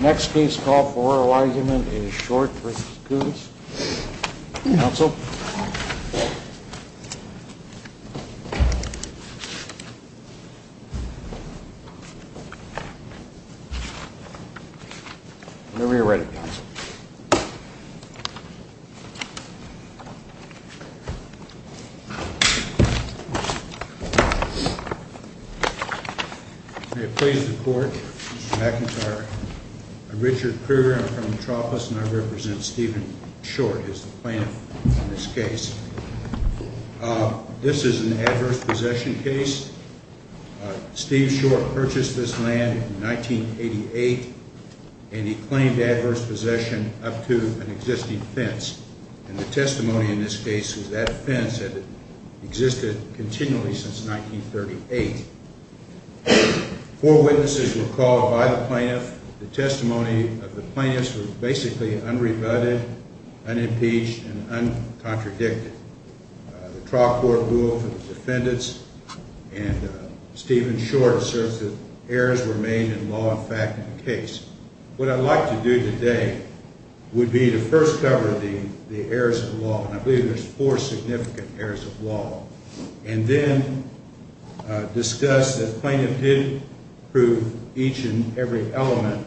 Next case call for oral argument is Short v. Coonce, counsel. Whenever you're ready, counsel. May it please the court, Mr. McIntyre. I'm Richard Kruger. I'm from Tropas, and I represent Stephen Short as the plaintiff on this case. This is an adverse possession case. Steve Short purchased this land in 1988, and he claimed adverse possession up to an existing fence. And the testimony in this case is that fence had existed continually since 1938. Four witnesses were called by the plaintiff. The testimony of the plaintiffs was basically unrebutted, unimpeached, and uncontradicted. The trial court ruled for the defendants, and Stephen Short asserts that errors were made in law and fact in the case. What I'd like to do today would be to first cover the errors of law, and I believe there's four significant errors of law, and then discuss that the plaintiff did prove each and every element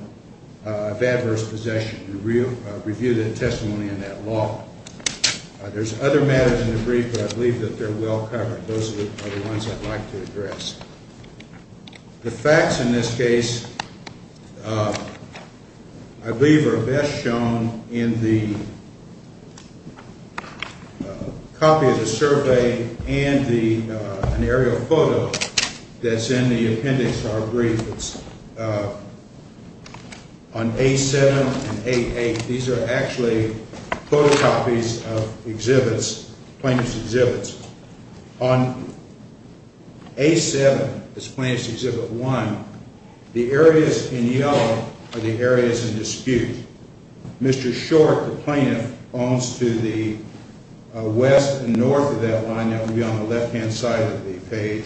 of adverse possession and review the testimony in that law. There's other matters in the brief, but I believe that they're well covered. Those are the ones I'd like to address. The facts in this case I believe are best shown in the copy of the survey and an aerial photo that's in the appendix to our brief. It's on A7 and A8. These are actually photocopies of exhibits, plaintiff's exhibits. On A7 is Plaintiff's Exhibit 1. The areas in yellow are the areas in dispute. Mr. Short, the plaintiff, owns to the west and north of that line. That would be on the left-hand side of the page,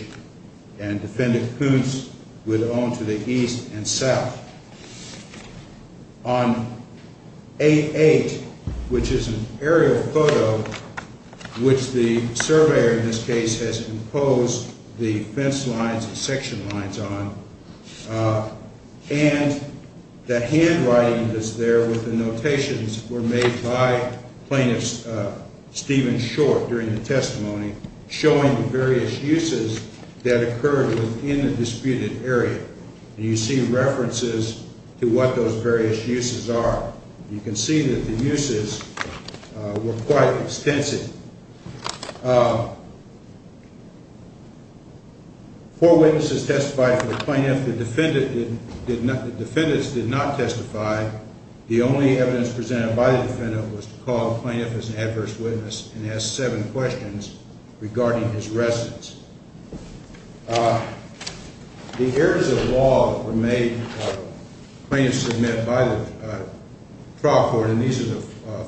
and Defendant Kuntz would own to the east and south. On A8, which is an aerial photo, which the surveyor in this case has imposed the fence lines and section lines on, and the handwriting that's there with the notations were made by Plaintiff Stephen Short during the testimony, showing the various uses that occurred within the disputed area. You see references to what those various uses are. You can see that the uses were quite extensive. Four witnesses testified for the plaintiff. The defendants did not testify. The only evidence presented by the defendant was to call the plaintiff as an adverse witness and ask seven questions regarding his residence. The areas of law that were made plain to submit by the trial court, and these are the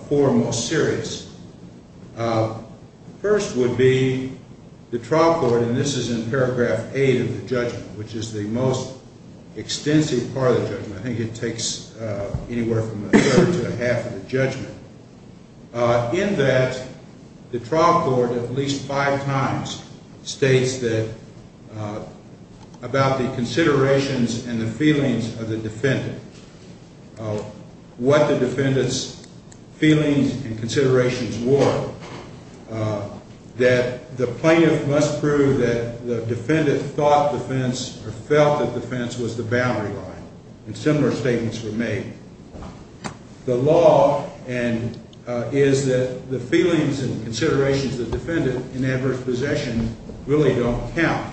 four most serious, first would be the trial court, and this is in paragraph 8 of the judgment, which is the most extensive part of the judgment. I think it takes anywhere from a third to a half of the judgment. In that, the trial court at least five times states that, about the considerations and the feelings of the defendant, what the defendant's feelings and considerations were, that the plaintiff must prove that the defendant thought the fence or felt that the fence was the boundary line, and similar statements were made. The law is that the feelings and considerations of the defendant in adverse possession really don't count.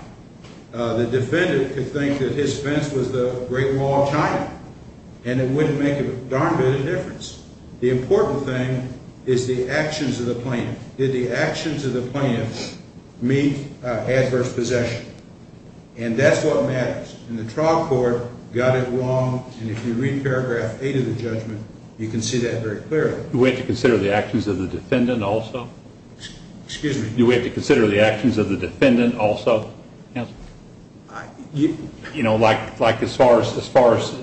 The defendant could think that his fence was the great wall of China, and it wouldn't make a darn bit of difference. The important thing is the actions of the plaintiff. Did the actions of the plaintiff meet adverse possession? And that's what matters, and the trial court got it wrong, and if you read paragraph 8 of the judgment, you can see that very clearly. Do we have to consider the actions of the defendant also? Excuse me? Do we have to consider the actions of the defendant also? You know, like as far as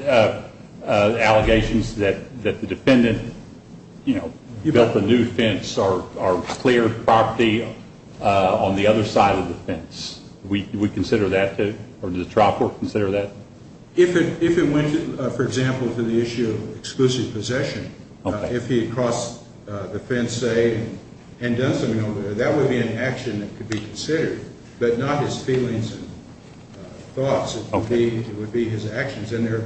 allegations that the defendant built a new fence or cleared property on the other side of the fence, do we consider that too, or does the trial court consider that? If it went, for example, to the issue of exclusive possession, if he had crossed the fence, say, and done something over there, that would be an action that could be considered, but not his feelings and thoughts. It would be his actions, and there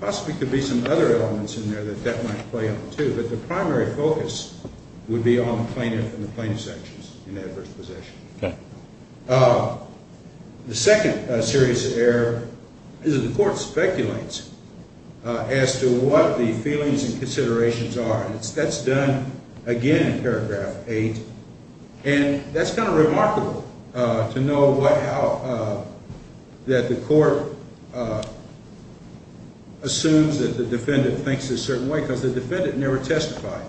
possibly could be some other elements in there that that might play out too, but the primary focus would be on the plaintiff and the plaintiff's actions in adverse possession. Okay. The second serious error is that the court speculates as to what the feelings and considerations are, and that's done again in paragraph 8, and that's kind of remarkable to know that the court assumes that the defendant thinks a certain way because the defendant never testified.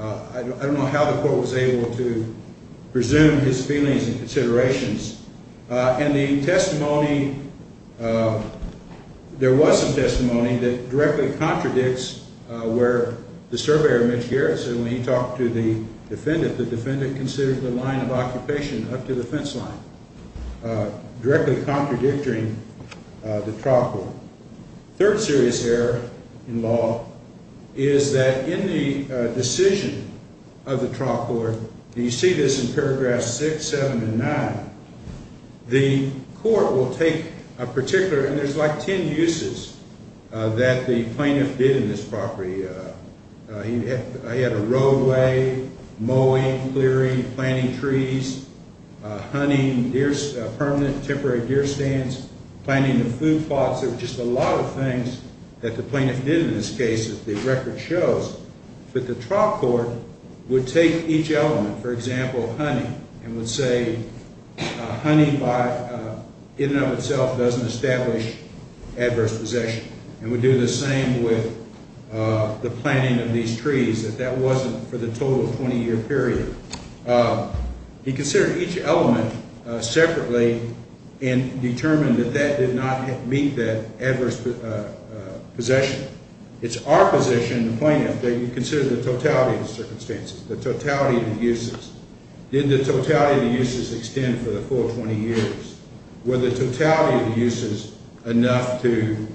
I don't know how the court was able to presume his feelings and considerations. In the testimony, there was some testimony that directly contradicts where the surveyor, Mitch Garrison, when he talked to the defendant, the defendant considered the line of occupation up to the fence line, directly contradicting the trial court. The third serious error in law is that in the decision of the trial court, and you see this in paragraphs 6, 7, and 9, the court will take a particular, and there's like ten uses that the plaintiff did in this property. He had a roadway, mowing, clearing, planting trees, hunting permanent temporary deer stands, planting the food plots. There were just a lot of things that the plaintiff did in this case that the record shows, but the trial court would take each element, for example, honey, and would say honey in and of itself doesn't establish adverse possession, and would do the same with the planting of these trees, that that wasn't for the total 20-year period. He considered each element separately and determined that that did not meet that adverse possession. It's our position in the plaintiff that you consider the totality of the circumstances, the totality of the uses. Did the totality of the uses extend for the full 20 years? Were the totality of the uses enough to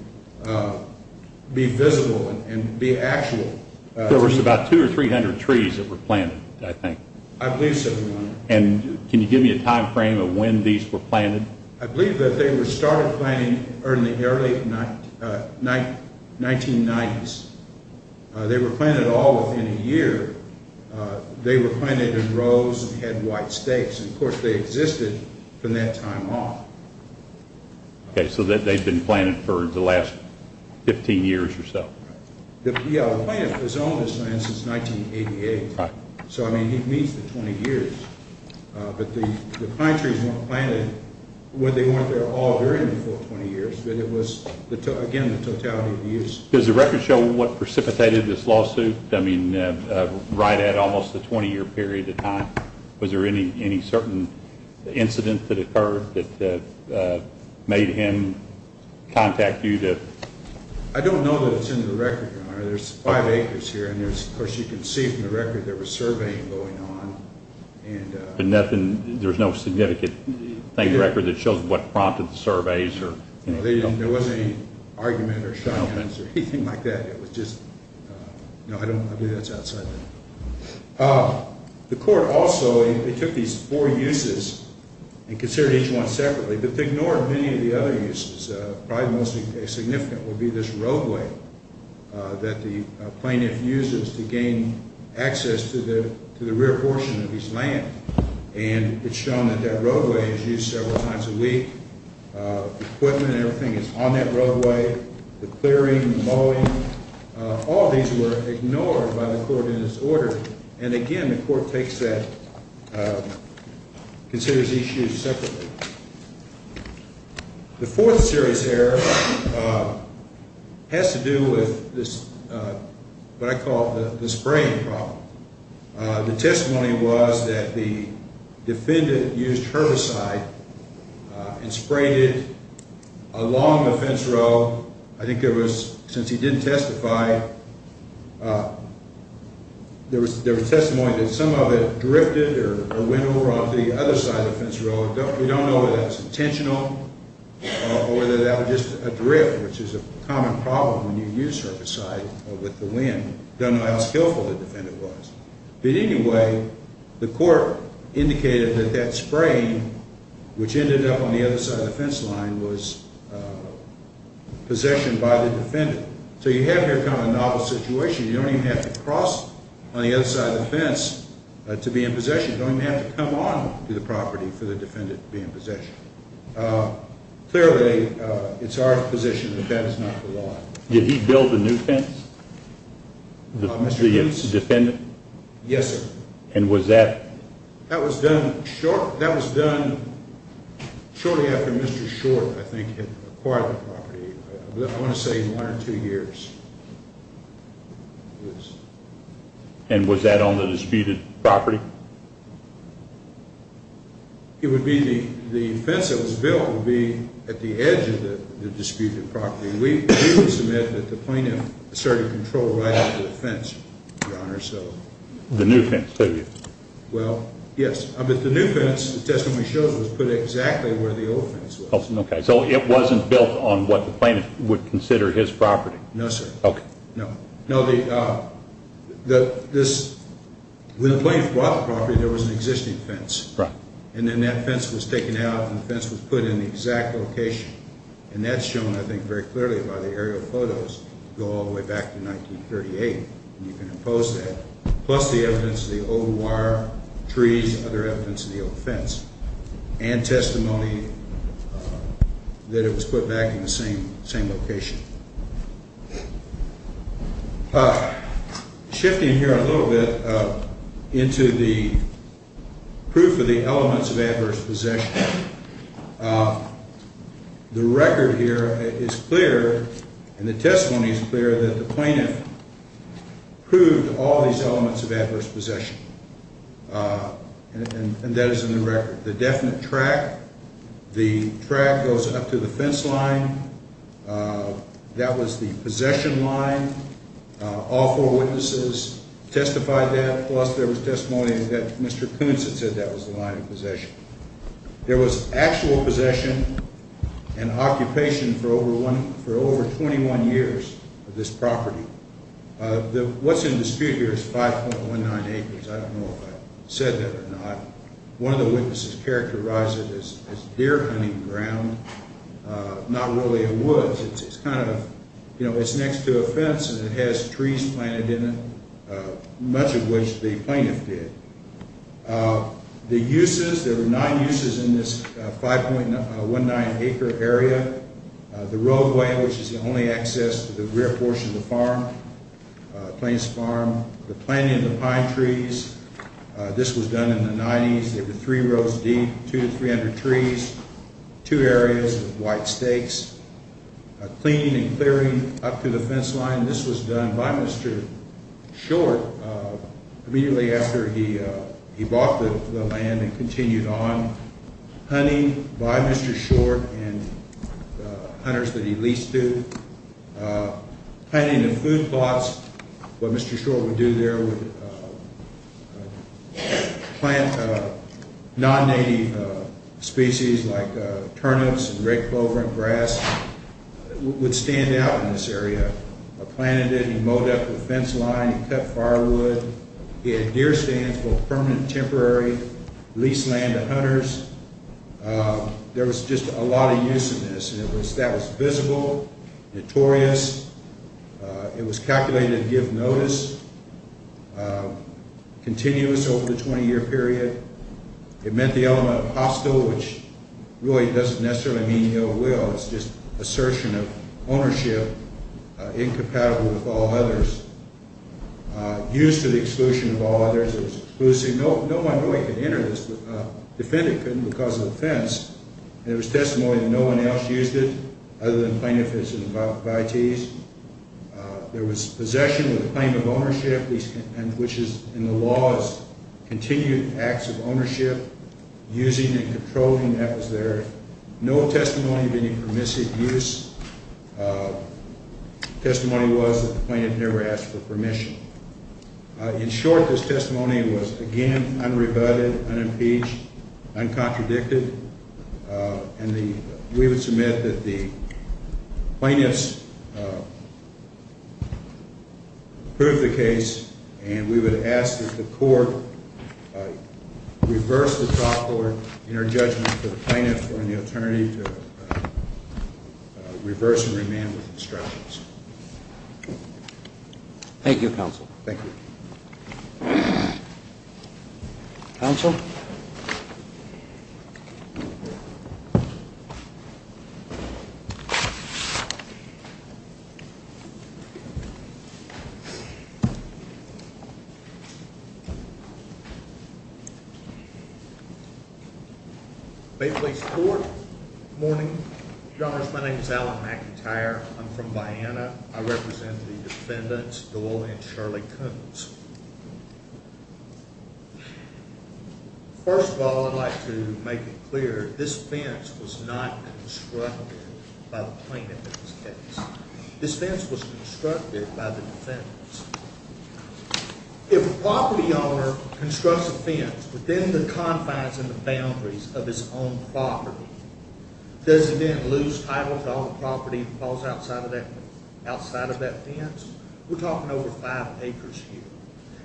be visible and be actual? There was about 200 or 300 trees that were planted, I think. I believe so, Your Honor. And can you give me a time frame of when these were planted? I believe that they were started planting in the early 1990s. They were planted all within a year. They were planted in rows and had white stakes, and of course they existed from that time on. Okay, so they've been planted for the last 15 years or so. Yeah, the plaintiff has owned this land since 1988, so, I mean, he meets the 20 years. But the pine trees weren't planted when they weren't there all during the full 20 years, but it was, again, the totality of the use. Does the record show what precipitated this lawsuit? I mean, right at almost the 20-year period of time, was there any certain incident that occurred that made him contact you? I don't know that it's in the record, Your Honor. There's five acres here, and, of course, you can see from the record there was surveying going on. But there's no significant thing in the record that shows what prompted the surveys? There wasn't any argument or shout-outs or anything like that. It was just, no, I believe that's outside that. The court also took these four uses and considered each one separately, but they ignored many of the other uses, probably the most significant would be this roadway that the plaintiff uses to gain access to the rear portion of his land. And it's shown that that roadway is used several times a week. Equipment and everything is on that roadway, the clearing, the mowing. All these were ignored by the court in his order. And, again, the court takes that, considers each use separately. The fourth series here has to do with what I call the spraying problem. The testimony was that the defendant used herbicide and sprayed it along the fence row. I think there was, since he didn't testify, there was testimony that some of it drifted or went over onto the other side of the fence row. We don't know whether that was intentional or whether that was just a drift, which is a common problem when you use herbicide with the wind. We don't know how skillful the defendant was. But anyway, the court indicated that that spraying, which ended up on the other side of the fence line, was possession by the defendant. So you have here kind of a novel situation. You don't even have to cross on the other side of the fence to be in possession. You don't even have to come on to the property for the defendant to be in possession. Clearly, it's our position that that is not the law. Did he build the new fence, the defendant? Yes, sir. And was that? That was done shortly after Mr. Short, I think, had acquired the property, I want to say in one or two years. And was that on the disputed property? It would be the fence that was built would be at the edge of the disputed property. We do submit that the plaintiff asserted control right up to the fence, Your Honor. The new fence, too? Well, yes. But the new fence, the testimony shows, was put exactly where the old fence was. Okay. So it wasn't built on what the plaintiff would consider his property? No, sir. Okay. No. When the plaintiff bought the property, there was an existing fence. Right. And then that fence was taken out, and the fence was put in the exact location. And that's shown, I think, very clearly by the aerial photos that go all the way back to 1938. And you can impose that, plus the evidence of the old wire, trees, other evidence of the old fence, and testimony that it was put back in the same location. Shifting here a little bit into the proof of the elements of adverse possession, the record here is clear and the testimony is clear that the plaintiff proved all these elements of adverse possession. And that is in the record. The definite track, the track goes up to the fence line. That was the possession line. All four witnesses testified that. Plus there was testimony that Mr. Koonce had said that was the line of possession. There was actual possession and occupation for over 21 years of this property. What's in dispute here is 5.19 acres. I don't know if I said that or not. One of the witnesses characterized it as deer hunting ground, not really a woods. It's kind of, you know, it's next to a fence and it has trees planted in it, much of which the plaintiff did. The uses, there were nine uses in this 5.19 acre area. The roadway, which is the only access to the rear portion of the farm, Plains Farm. The planting of the pine trees, this was done in the 90s. There were three rows deep, two to three hundred trees, two areas with white stakes. Cleaning and clearing up to the fence line, this was done by Mr. Short immediately after he bought the land and continued on. Hunting by Mr. Short and the hunters that he leased to. Planting the food plots, what Mr. Short would do there would plant non-native species like turnips and red clover and grass. It would stand out in this area. Planted it and mowed up the fence line and cut firewood. He had deer stands, both permanent and temporary. Leased land to hunters. There was just a lot of use in this. That was visible, notorious. It was calculated to give notice. Continuous over the 20-year period. It meant the element of hostile, which really doesn't necessarily mean ill will. It's just assertion of ownership incompatible with all others. Used to the exclusion of all others. It was exclusive. No one really could enter this. Defendant couldn't because of the fence. There was testimony that no one else used it other than plaintiff and his invitees. There was possession with a claim of ownership, which is in the law as continued acts of ownership. Using and controlling, that was there. No testimony of any permissive use. Testimony was that the plaintiff never asked for permission. In short, this testimony was, again, unrebutted, unimpeached, uncontradicted. And we would submit that the plaintiffs proved the case. And we would ask that the court reverse the top order in our judgment for the plaintiff or the attorney to reverse and remand with instructions. Thank you, Counsel. Thank you. Counsel? May it please the Court. Good morning, Your Honors. My name is Alan McIntyre. I'm from Viana. I represent the defendants, Doyle and Shirley Coons. First of all, I'd like to make it clear this fence was not constructed by the plaintiff in this case. This fence was constructed by the defendants. If a property owner constructs a fence within the confines and the boundaries of his own property, does he then lose title to all the property that falls outside of that fence? We're talking over five acres here.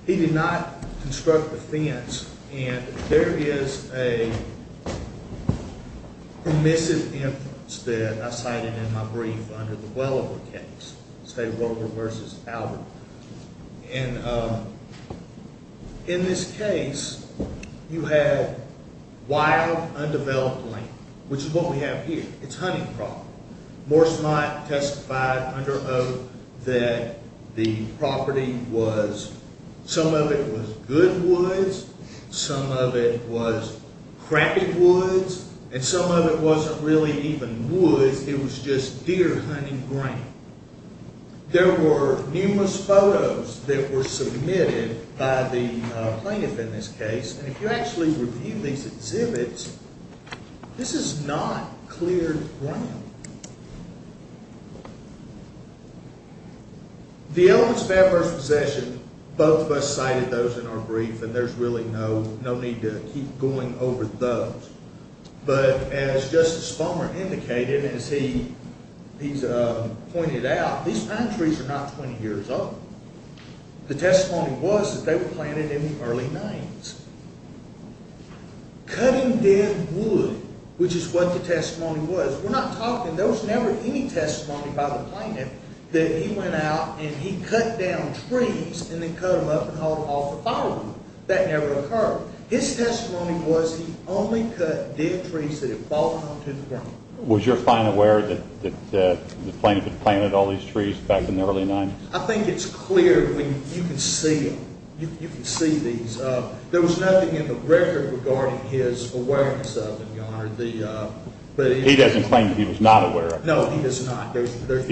He did not construct the fence. And there is a permissive influence that I cited in my brief under the Welliver case, State of Welliver v. Albert. And in this case, you had wild, undeveloped land, which is what we have here. It's hunting property. Morse Mott testified under oath that the property was, some of it was good woods, some of it was crappy woods, and some of it wasn't really even woods. It was just deer hunting ground. There were numerous photos that were submitted by the plaintiff in this case. And if you actually review these exhibits, this is not cleared ground. The elements of adverse possession, both of us cited those in our brief, and there's really no need to keep going over those. But as Justice Palmer indicated and as he's pointed out, these pine trees are not 20 years old. The testimony was that they were planted in the early 90s. Cutting dead wood, which is what the testimony was, we're not talking, there was never any testimony by the plaintiff that he went out and he cut down trees and then cut them up and hauled them off the firewood. That never occurred. His testimony was he only cut dead trees that had fallen onto the ground. Was your client aware that the plaintiff had planted all these trees back in the early 90s? I think it's clear when you can see them. You can see these. There was nothing in the record regarding his awareness of them, Your Honor. He doesn't claim that he was not aware of them. No, he was not. He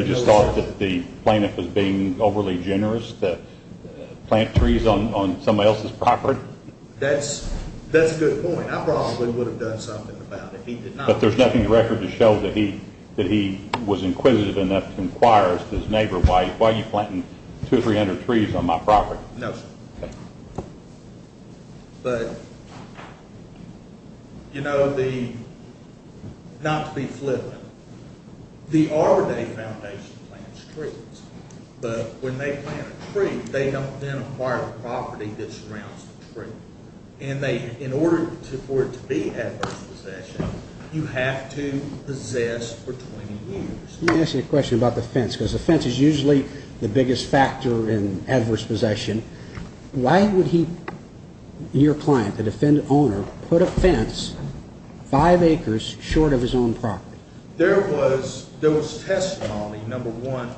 just thought that the plaintiff was being overly generous to plant trees on somebody else's property? That's a good point. I probably would have done something about it if he did not. But there's nothing in the record to show that he was inquisitive enough to inquire to his neighbor, why are you planting 200 or 300 trees on my property? No, sir. But, you know, not to be flippant, the Arbor Day Foundation plants trees. But when they plant a tree, they don't then acquire the property that surrounds the tree. And in order for it to be adverse possession, you have to possess for 20 years. Let me ask you a question about the fence, because the fence is usually the biggest factor in adverse possession. Why would he, your client, the defendant owner, put a fence five acres short of his own property? There was testimony, number one,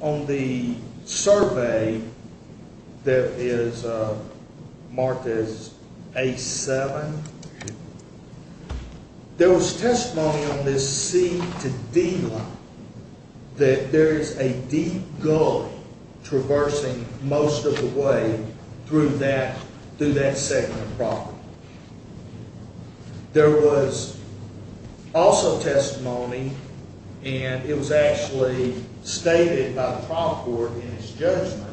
on the survey that is marked as A7. There was testimony on this C to D line that there is a deep gully traversing most of the way through that segment of property. There was also testimony, and it was actually stated by the trial court in its judgment,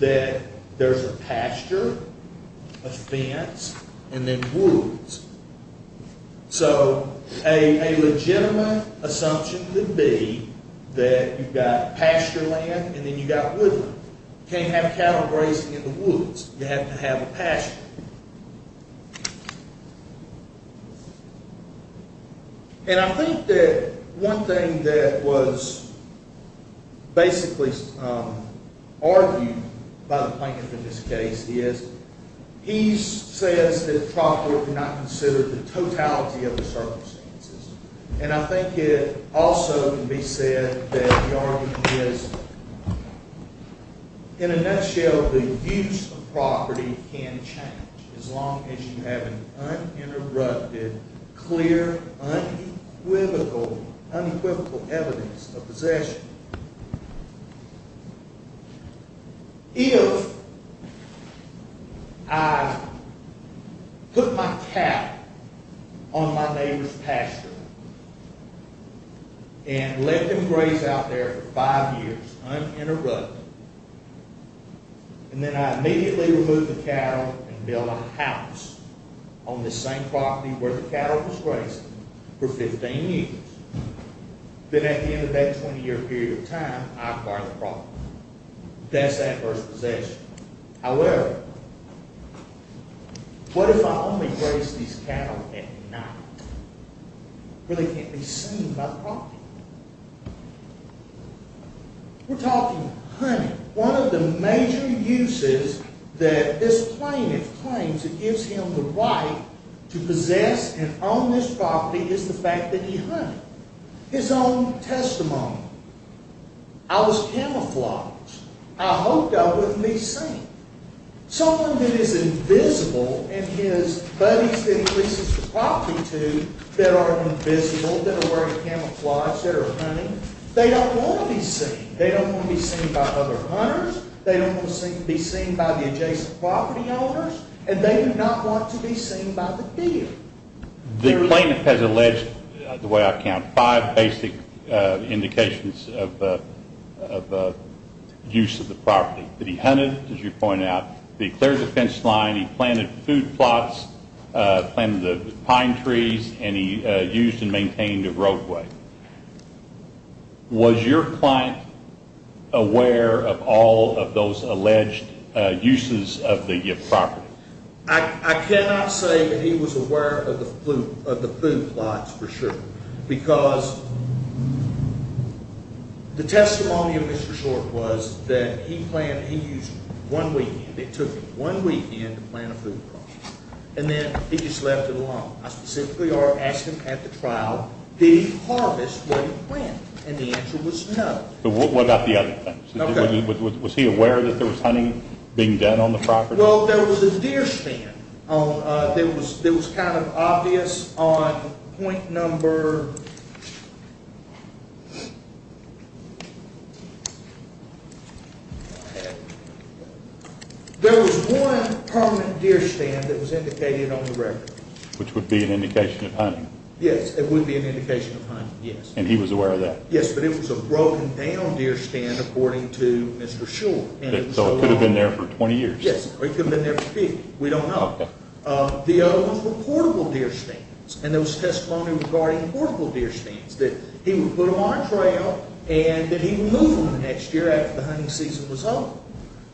that there's a pasture, a fence, and then woods. So a legitimate assumption could be that you've got pasture land and then you've got woodland. You can't have cattle grazing in the woods. You have to have a pasture. And I think that one thing that was basically argued by the plaintiff in this case is he says that the trial court did not consider the totality of the circumstances. And I think it also can be said that the argument is, in a nutshell, the use of property can change as long as you have uninterrupted, clear, unequivocal evidence of possession. If I put my cattle on my neighbor's pasture and let them graze out there for five years uninterrupted, and then I immediately removed the cattle and built a house on the same property where the cattle was grazing for 15 years, then at the end of that 20-year period of time, I acquire the property. That's adverse possession. However, what if I only graze these cattle at night where they can't be seen by the property? We're talking hunting. One of the major uses that this plaintiff claims that gives him the right to possess and own this property is the fact that he hunted. His own testimony. I was camouflaged. I hoped I wouldn't be seen. Someone who is invisible and his buddies that he increases the property to that are invisible, that are wearing camouflage, that are hunting, they don't want to be seen. They don't want to be seen by other hunters. They don't want to be seen by the adjacent property owners. And they do not want to be seen by the deer. The plaintiff has alleged, the way I count, five basic indications of use of the property. That he hunted, as you pointed out, he cleared the fence line, he planted food plots, planted the pine trees, and he used and maintained a roadway. Was your client aware of all of those alleged uses of the property? I cannot say that he was aware of the food plots for sure. Because the testimony of Mr. Short was that he used one weekend. It took him one weekend to plant a food plot. And then he just left it alone. I specifically asked him at the trial, did he harvest what he planted? And the answer was no. What about the other things? Was he aware that there was hunting being done on the property? Well, there was a deer stand that was kind of obvious on point number... There was one permanent deer stand that was indicated on the record. Which would be an indication of hunting? Yes, it would be an indication of hunting, yes. And he was aware of that? Yes, but it was a broken down deer stand according to Mr. Short. So it could have been there for 20 years? Yes, or it could have been there for 50. We don't know. The other ones were portable deer stands. And there was testimony regarding portable deer stands. That he would put them on a trail and that he would move them the next year after the hunting season was over.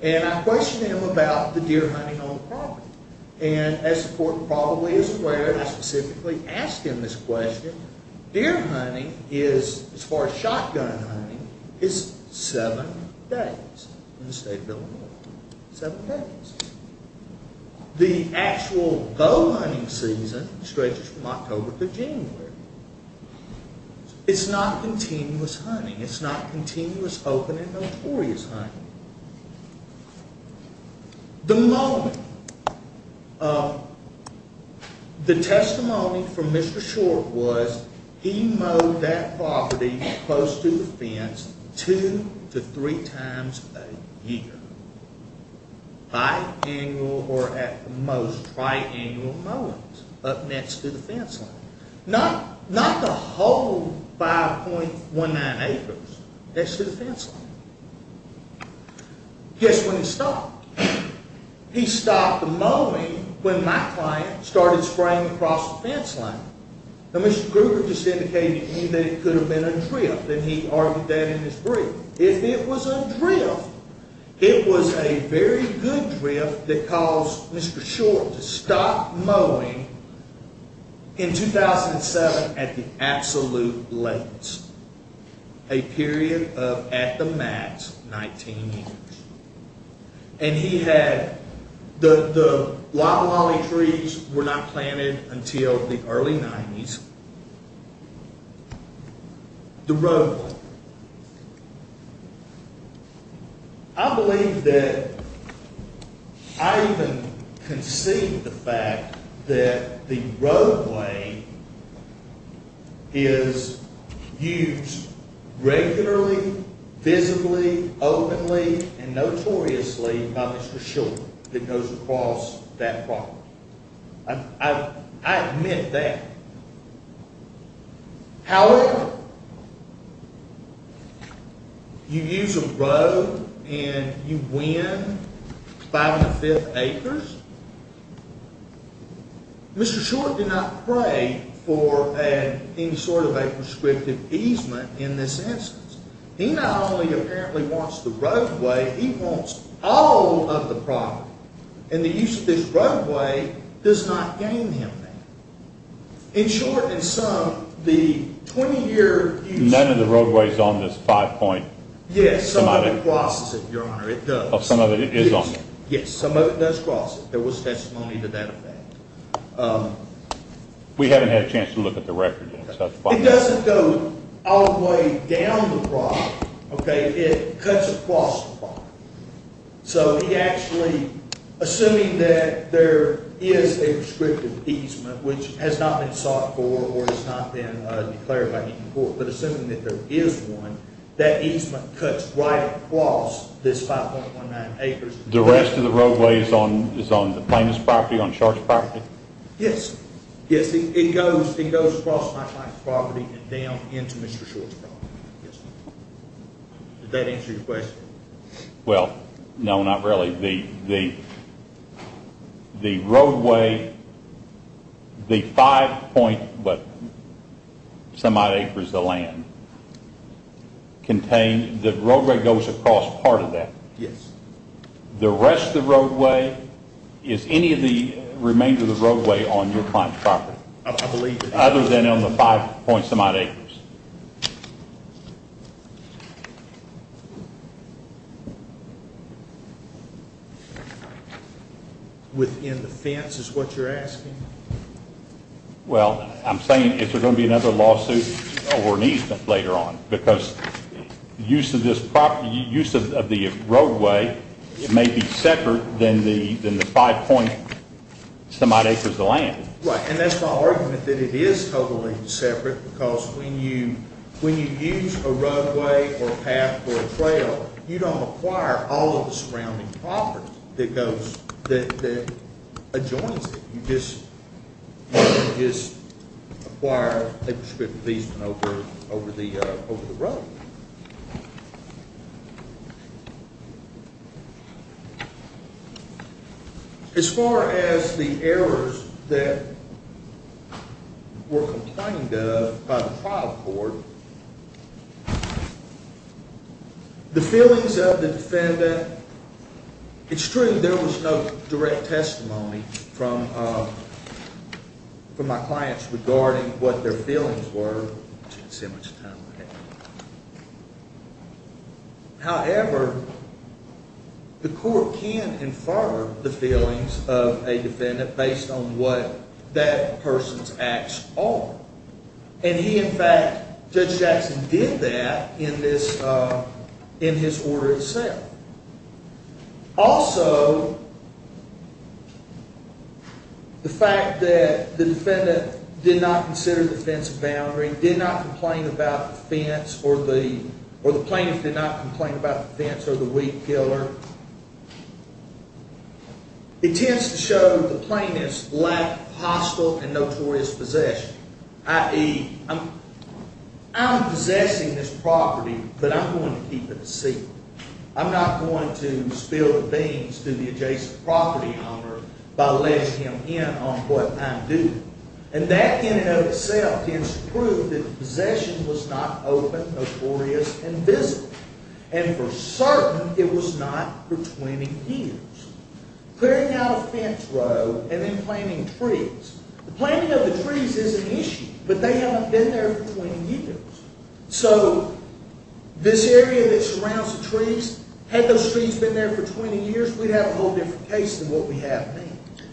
And I questioned him about the deer hunting on the property. And as the court probably is aware, I specifically asked him this question. Deer hunting, as far as shotgun hunting, is seven days in the state of Illinois. Seven days. The actual bow hunting season stretches from October to January. It's not continuous hunting. It's not continuous open and notorious hunting. The mowing. The testimony from Mr. Short was he mowed that property close to the fence two to three times a year. Bi-annual or at the most, tri-annual mowings up next to the fence line. Not the whole 5.19 acres next to the fence line. Guess when he stopped? He stopped the mowing when my client started spraying across the fence line. Now Mr. Gruber just indicated to me that it could have been a drift. And he argued that in his brief. If it was a drift, it was a very good drift that caused Mr. Short to stop mowing in 2007 at the absolute latest. A period of, at the max, 19 years. And he had the Wabalawi trees were not planted until the early 90s. The roadway. I believe that, I even concede the fact that the roadway is used regularly, visibly, openly, and notoriously by Mr. Short. It goes across that property. I admit that. However, you use a road and you win five and a fifth acres. Mr. Short did not pray for any sort of a prescriptive easement in this instance. He not only apparently wants the roadway, he wants all of the property. And the use of this roadway does not gain him that. In short, in sum, the 20 year use. None of the roadway is on this five point. Yes, some of it crosses it, your honor, it does. Some of it is on it. Yes, some of it does cross it. There was testimony to that fact. We haven't had a chance to look at the record yet. It doesn't go all the way down the property. Okay, it cuts across the property. So he actually, assuming that there is a prescriptive easement, which has not been sought for or has not been declared by any court, but assuming that there is one, that easement cuts right across this 5.19 acres. The rest of the roadway is on Plaintiff's property, on Short's property? Yes. Yes, it goes across my client's property and down into Mr. Short's property. Does that answer your question? Well, no, not really. The roadway, the five point but some odd acres of land, contains, the roadway goes across part of that. Yes. The rest of the roadway, is any of the remainder of the roadway on your client's property? I believe it is. Other than on the five point some odd acres? Within the fence is what you're asking? Well, I'm saying if there's going to be another lawsuit or an easement later on, because use of this property, use of the roadway, it may be separate than the five point some odd acres of land. Right, and that's my argument, that it is totally separate, because when you use a roadway or a path or a trail, you don't acquire all of the surrounding property that adjoins it. You just acquire a prescriptive easement over the road. As far as the errors that were complained of by the trial court, the feelings of the defendant, it's true there was no direct testimony from my clients regarding what their feelings were. However, the court can infer the feelings of a defendant based on what that person's acts are. And he, in fact, Judge Jackson, did that in his order itself. Also, the fact that the defendant did not consider the fence a boundary, did not complain about the fence or the plaintiff did not complain about the fence or the wheat killer, it tends to show the plaintiff's lack of hostile and notorious possession, i.e., I'm possessing this property, but I'm going to keep it a secret. I'm not going to spill the beans to the adjacent property owner by letting him in on what I'm doing. And that in and of itself tends to prove that the possession was not open, notorious, and visible. And for certain, it was not for 20 years. Clearing out a fence road and then planting trees. The planting of the trees is an issue, but they haven't been there for 20 years. So this area that surrounds the trees, had those trees been there for 20 years, we'd have a whole different case than what we have now.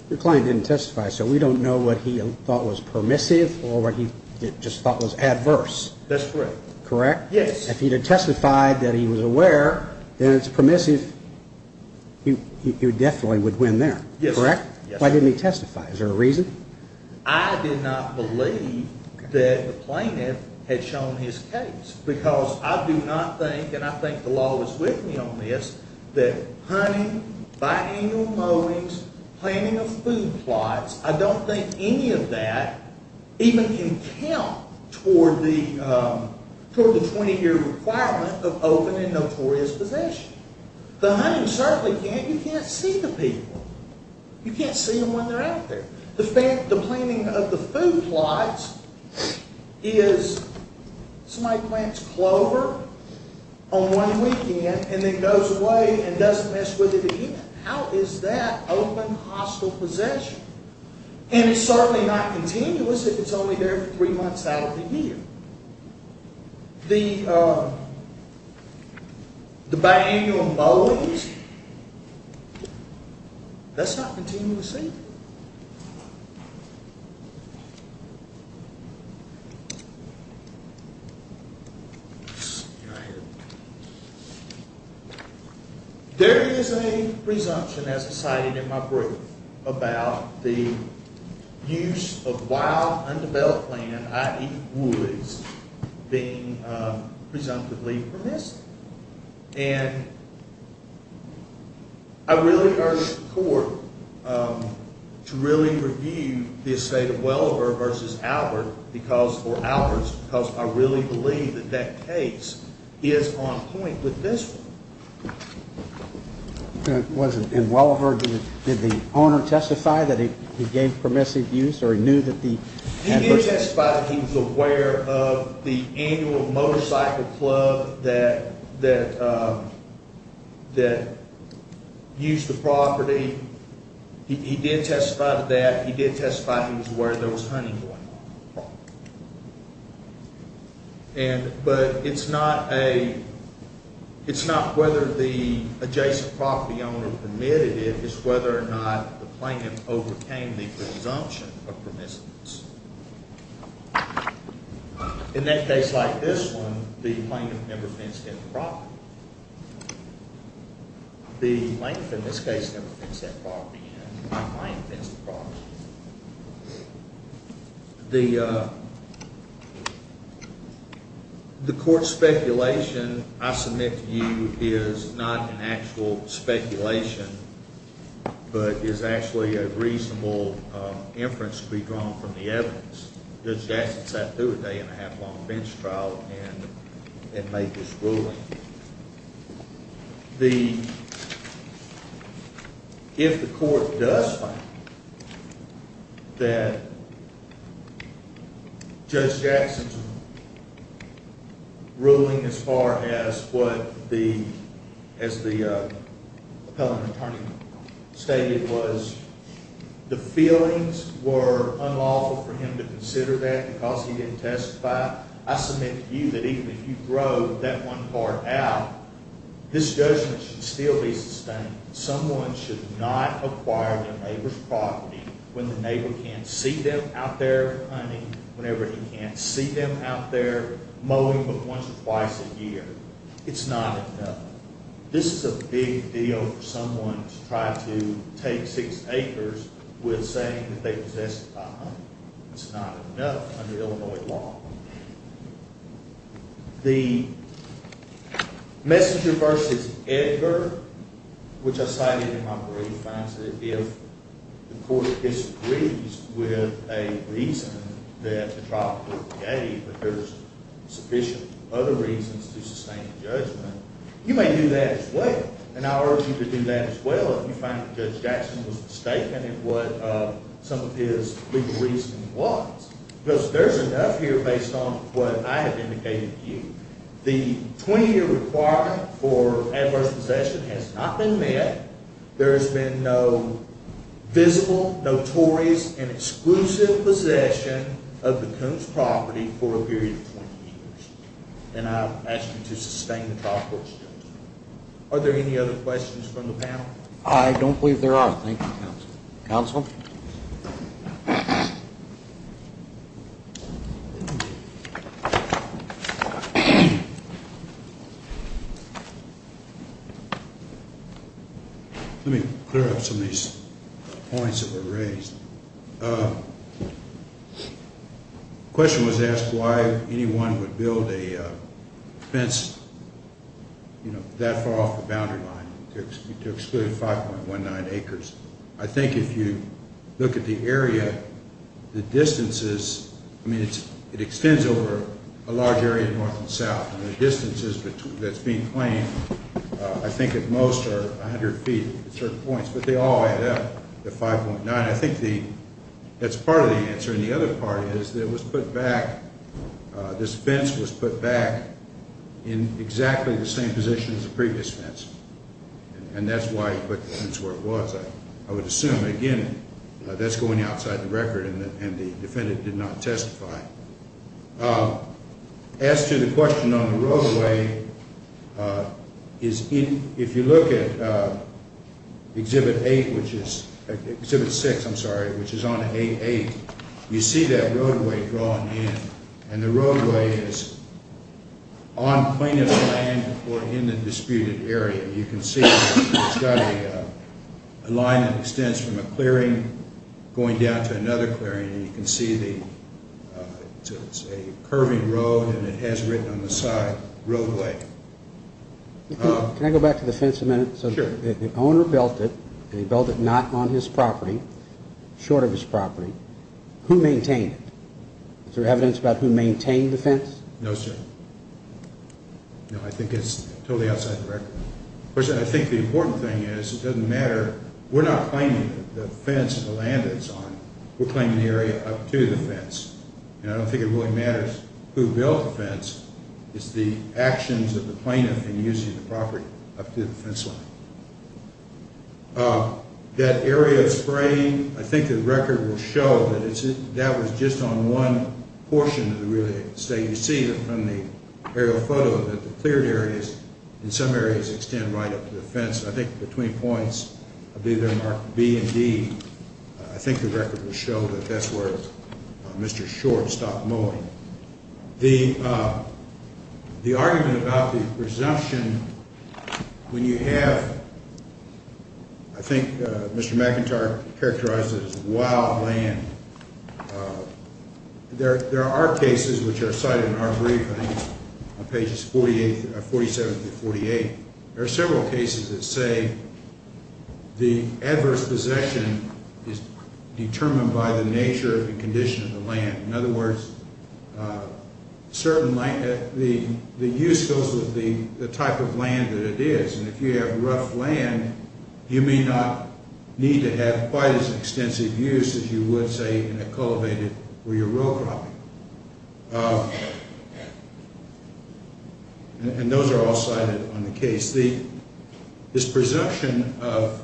Your client didn't testify, so we don't know what he thought was permissive or what he just thought was adverse. That's correct. Correct? Yes. If he had testified that he was aware that it's permissive, he definitely would win there, correct? Yes. Why didn't he testify? Is there a reason? I did not believe that the plaintiff had shown his case because I do not think, and I think the law is with me on this, that hunting, biannual mowings, planting of food plots, I don't think any of that even can count toward the 20-year requirement of open and notorious possession. The hunting certainly can't. You can't see the people. You can't see them when they're out there. The planting of the food plots is somebody plants clover on one weekend and then goes away and doesn't mess with it again. How is that open, hostile possession? And it's certainly not continuous if it's only there for three months out of the year. The biannual mowings, that's not continuous either. There is a presumption, as cited in my brief, about the use of wild, undeveloped land, i.e. woods, being presumptively permissive. And I really urge the court to really review the estate of Welliver v. Albert because I really believe that that case is on point with this one. And Welliver, did the owner testify that he gave permissive use? He did testify that he was aware of the annual motorcycle club that used the property. He did testify to that. He did testify he was aware there was hunting going on. But it's not whether the adjacent property owner permitted it. It's whether or not the plaintiff overcame the presumption of permissiveness. In that case like this one, the plaintiff never fenced in the property. The plaintiff in this case never fenced that property in. The client fenced the property in. The court's speculation, I submit to you, is not an actual speculation, but is actually a reasonable inference to be drawn from the evidence. Does Jackson have to do a day-and-a-half-long bench trial and make this ruling? If the court does find that Judge Jackson's ruling as far as what the appellant attorney stated was, the feelings were unlawful for him to consider that because he didn't testify, I submit to you that even if you throw that one part out, this judgment should still be sustained. Someone should not acquire their neighbor's property when the neighbor can't see them out there hunting, whenever he can't see them out there mowing but once or twice a year. It's not enough. This is a big deal for someone to try to take six acres with saying that they've testified. It's not enough under Illinois law. The messenger versus Edgar, which I cited in my brief, I said if the court disagrees with a reason that the trial could be gave but there's sufficient other reasons to sustain the judgment, you may do that as well. And I urge you to do that as well if you find that Judge Jackson was mistaken in what some of his legal reasoning was. Because there's enough here based on what I have indicated to you. The 20-year requirement for adverse possession has not been met. There has been no visible, notorious, and exclusive possession of the Coons' property for a period of 20 years. And I ask you to sustain the trial court's judgment. Are there any other questions from the panel? I don't believe there are. Thank you, counsel. Counsel? Let me clear up some of these points that were raised. The question was asked why anyone would build a fence that far off the boundary line to exclude 5.19 acres. I think if you look at the area, the distances, I mean it extends over a large area north and south. And the distances that's being claimed I think at most are 100 feet at certain points, but they all add up to 5.9. I think that's part of the answer. And the other part is that it was put back, this fence was put back in exactly the same position as the previous fence. And that's why he put the fence where it was. I would assume, again, that's going outside the record and the defendant did not testify. As to the question on the roadway, if you look at Exhibit 6, which is on A8, you see that roadway drawn in. And the roadway is on plaintiff's land or in the disputed area. You can see it's got a line that extends from a clearing going down to another clearing. And you can see it's a curving road and it has written on the side, roadway. Can I go back to the fence a minute? Sure. The owner built it and he built it not on his property, short of his property. Who maintained it? Is there evidence about who maintained the fence? No, sir. No, I think it's totally outside the record. Of course, I think the important thing is it doesn't matter. We're not claiming the fence and the land it's on. We're claiming the area up to the fence. And I don't think it really matters who built the fence. It's the actions of the plaintiff in using the property up to the fence line. That area of spraying, I think the record will show that that was just on one portion of the real estate. You see from the aerial photo that the cleared areas in some areas extend right up to the fence. I think between points, I believe they're marked B and D. I think the record will show that that's where Mr. Short stopped mowing. The argument about the presumption when you have, I think Mr. McIntyre characterized it as wild land. There are cases which are cited in our briefing on pages 47 through 48. There are several cases that say the adverse possession is determined by the nature and condition of the land. In other words, the use goes with the type of land that it is. And if you have rough land, you may not need to have quite as extensive use as you would, say, in a culvert where you're row cropping. And those are all cited on the case. This presumption of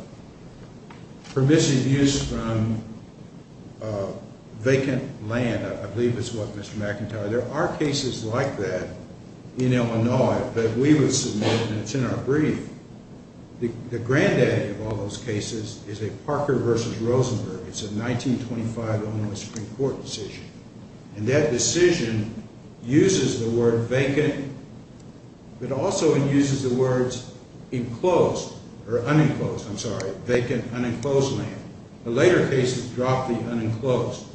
permissive use from vacant land, I believe it's what Mr. McIntyre... There are cases like that in Illinois that we would submit, and it's in our brief. The granddaddy of all those cases is a Parker v. Rosenberg. It's a 1925 Illinois Supreme Court decision. And that decision uses the word vacant, but also it uses the words enclosed or unenclosed. I'm sorry, vacant, unenclosed land. The later cases drop the unenclosed.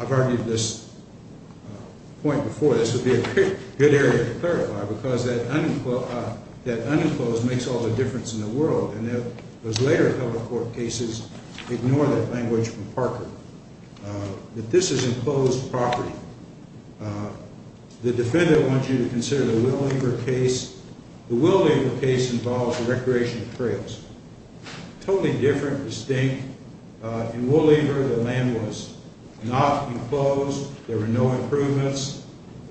I've argued this point before. This would be a good area to clarify because that unenclosed makes all the difference in the world. And those later public court cases ignore that language from Parker. But this is enclosed property. The defendant wants you to consider the Will Lieber case. The Will Lieber case involves the recreation of trails. Totally different, distinct. In Will Lieber, the land was not enclosed. There were no improvements.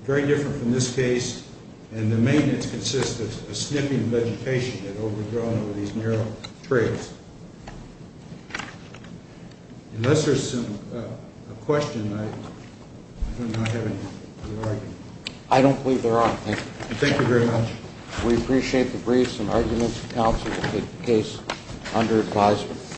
Very different from this case. And the maintenance consists of a snipping vegetation that overgrown over these narrow trails. Unless there's a question, I do not have anything to argue. I don't believe there are. Thank you. Thank you very much. We appreciate the briefs and arguments from counsel to take the case under advisement.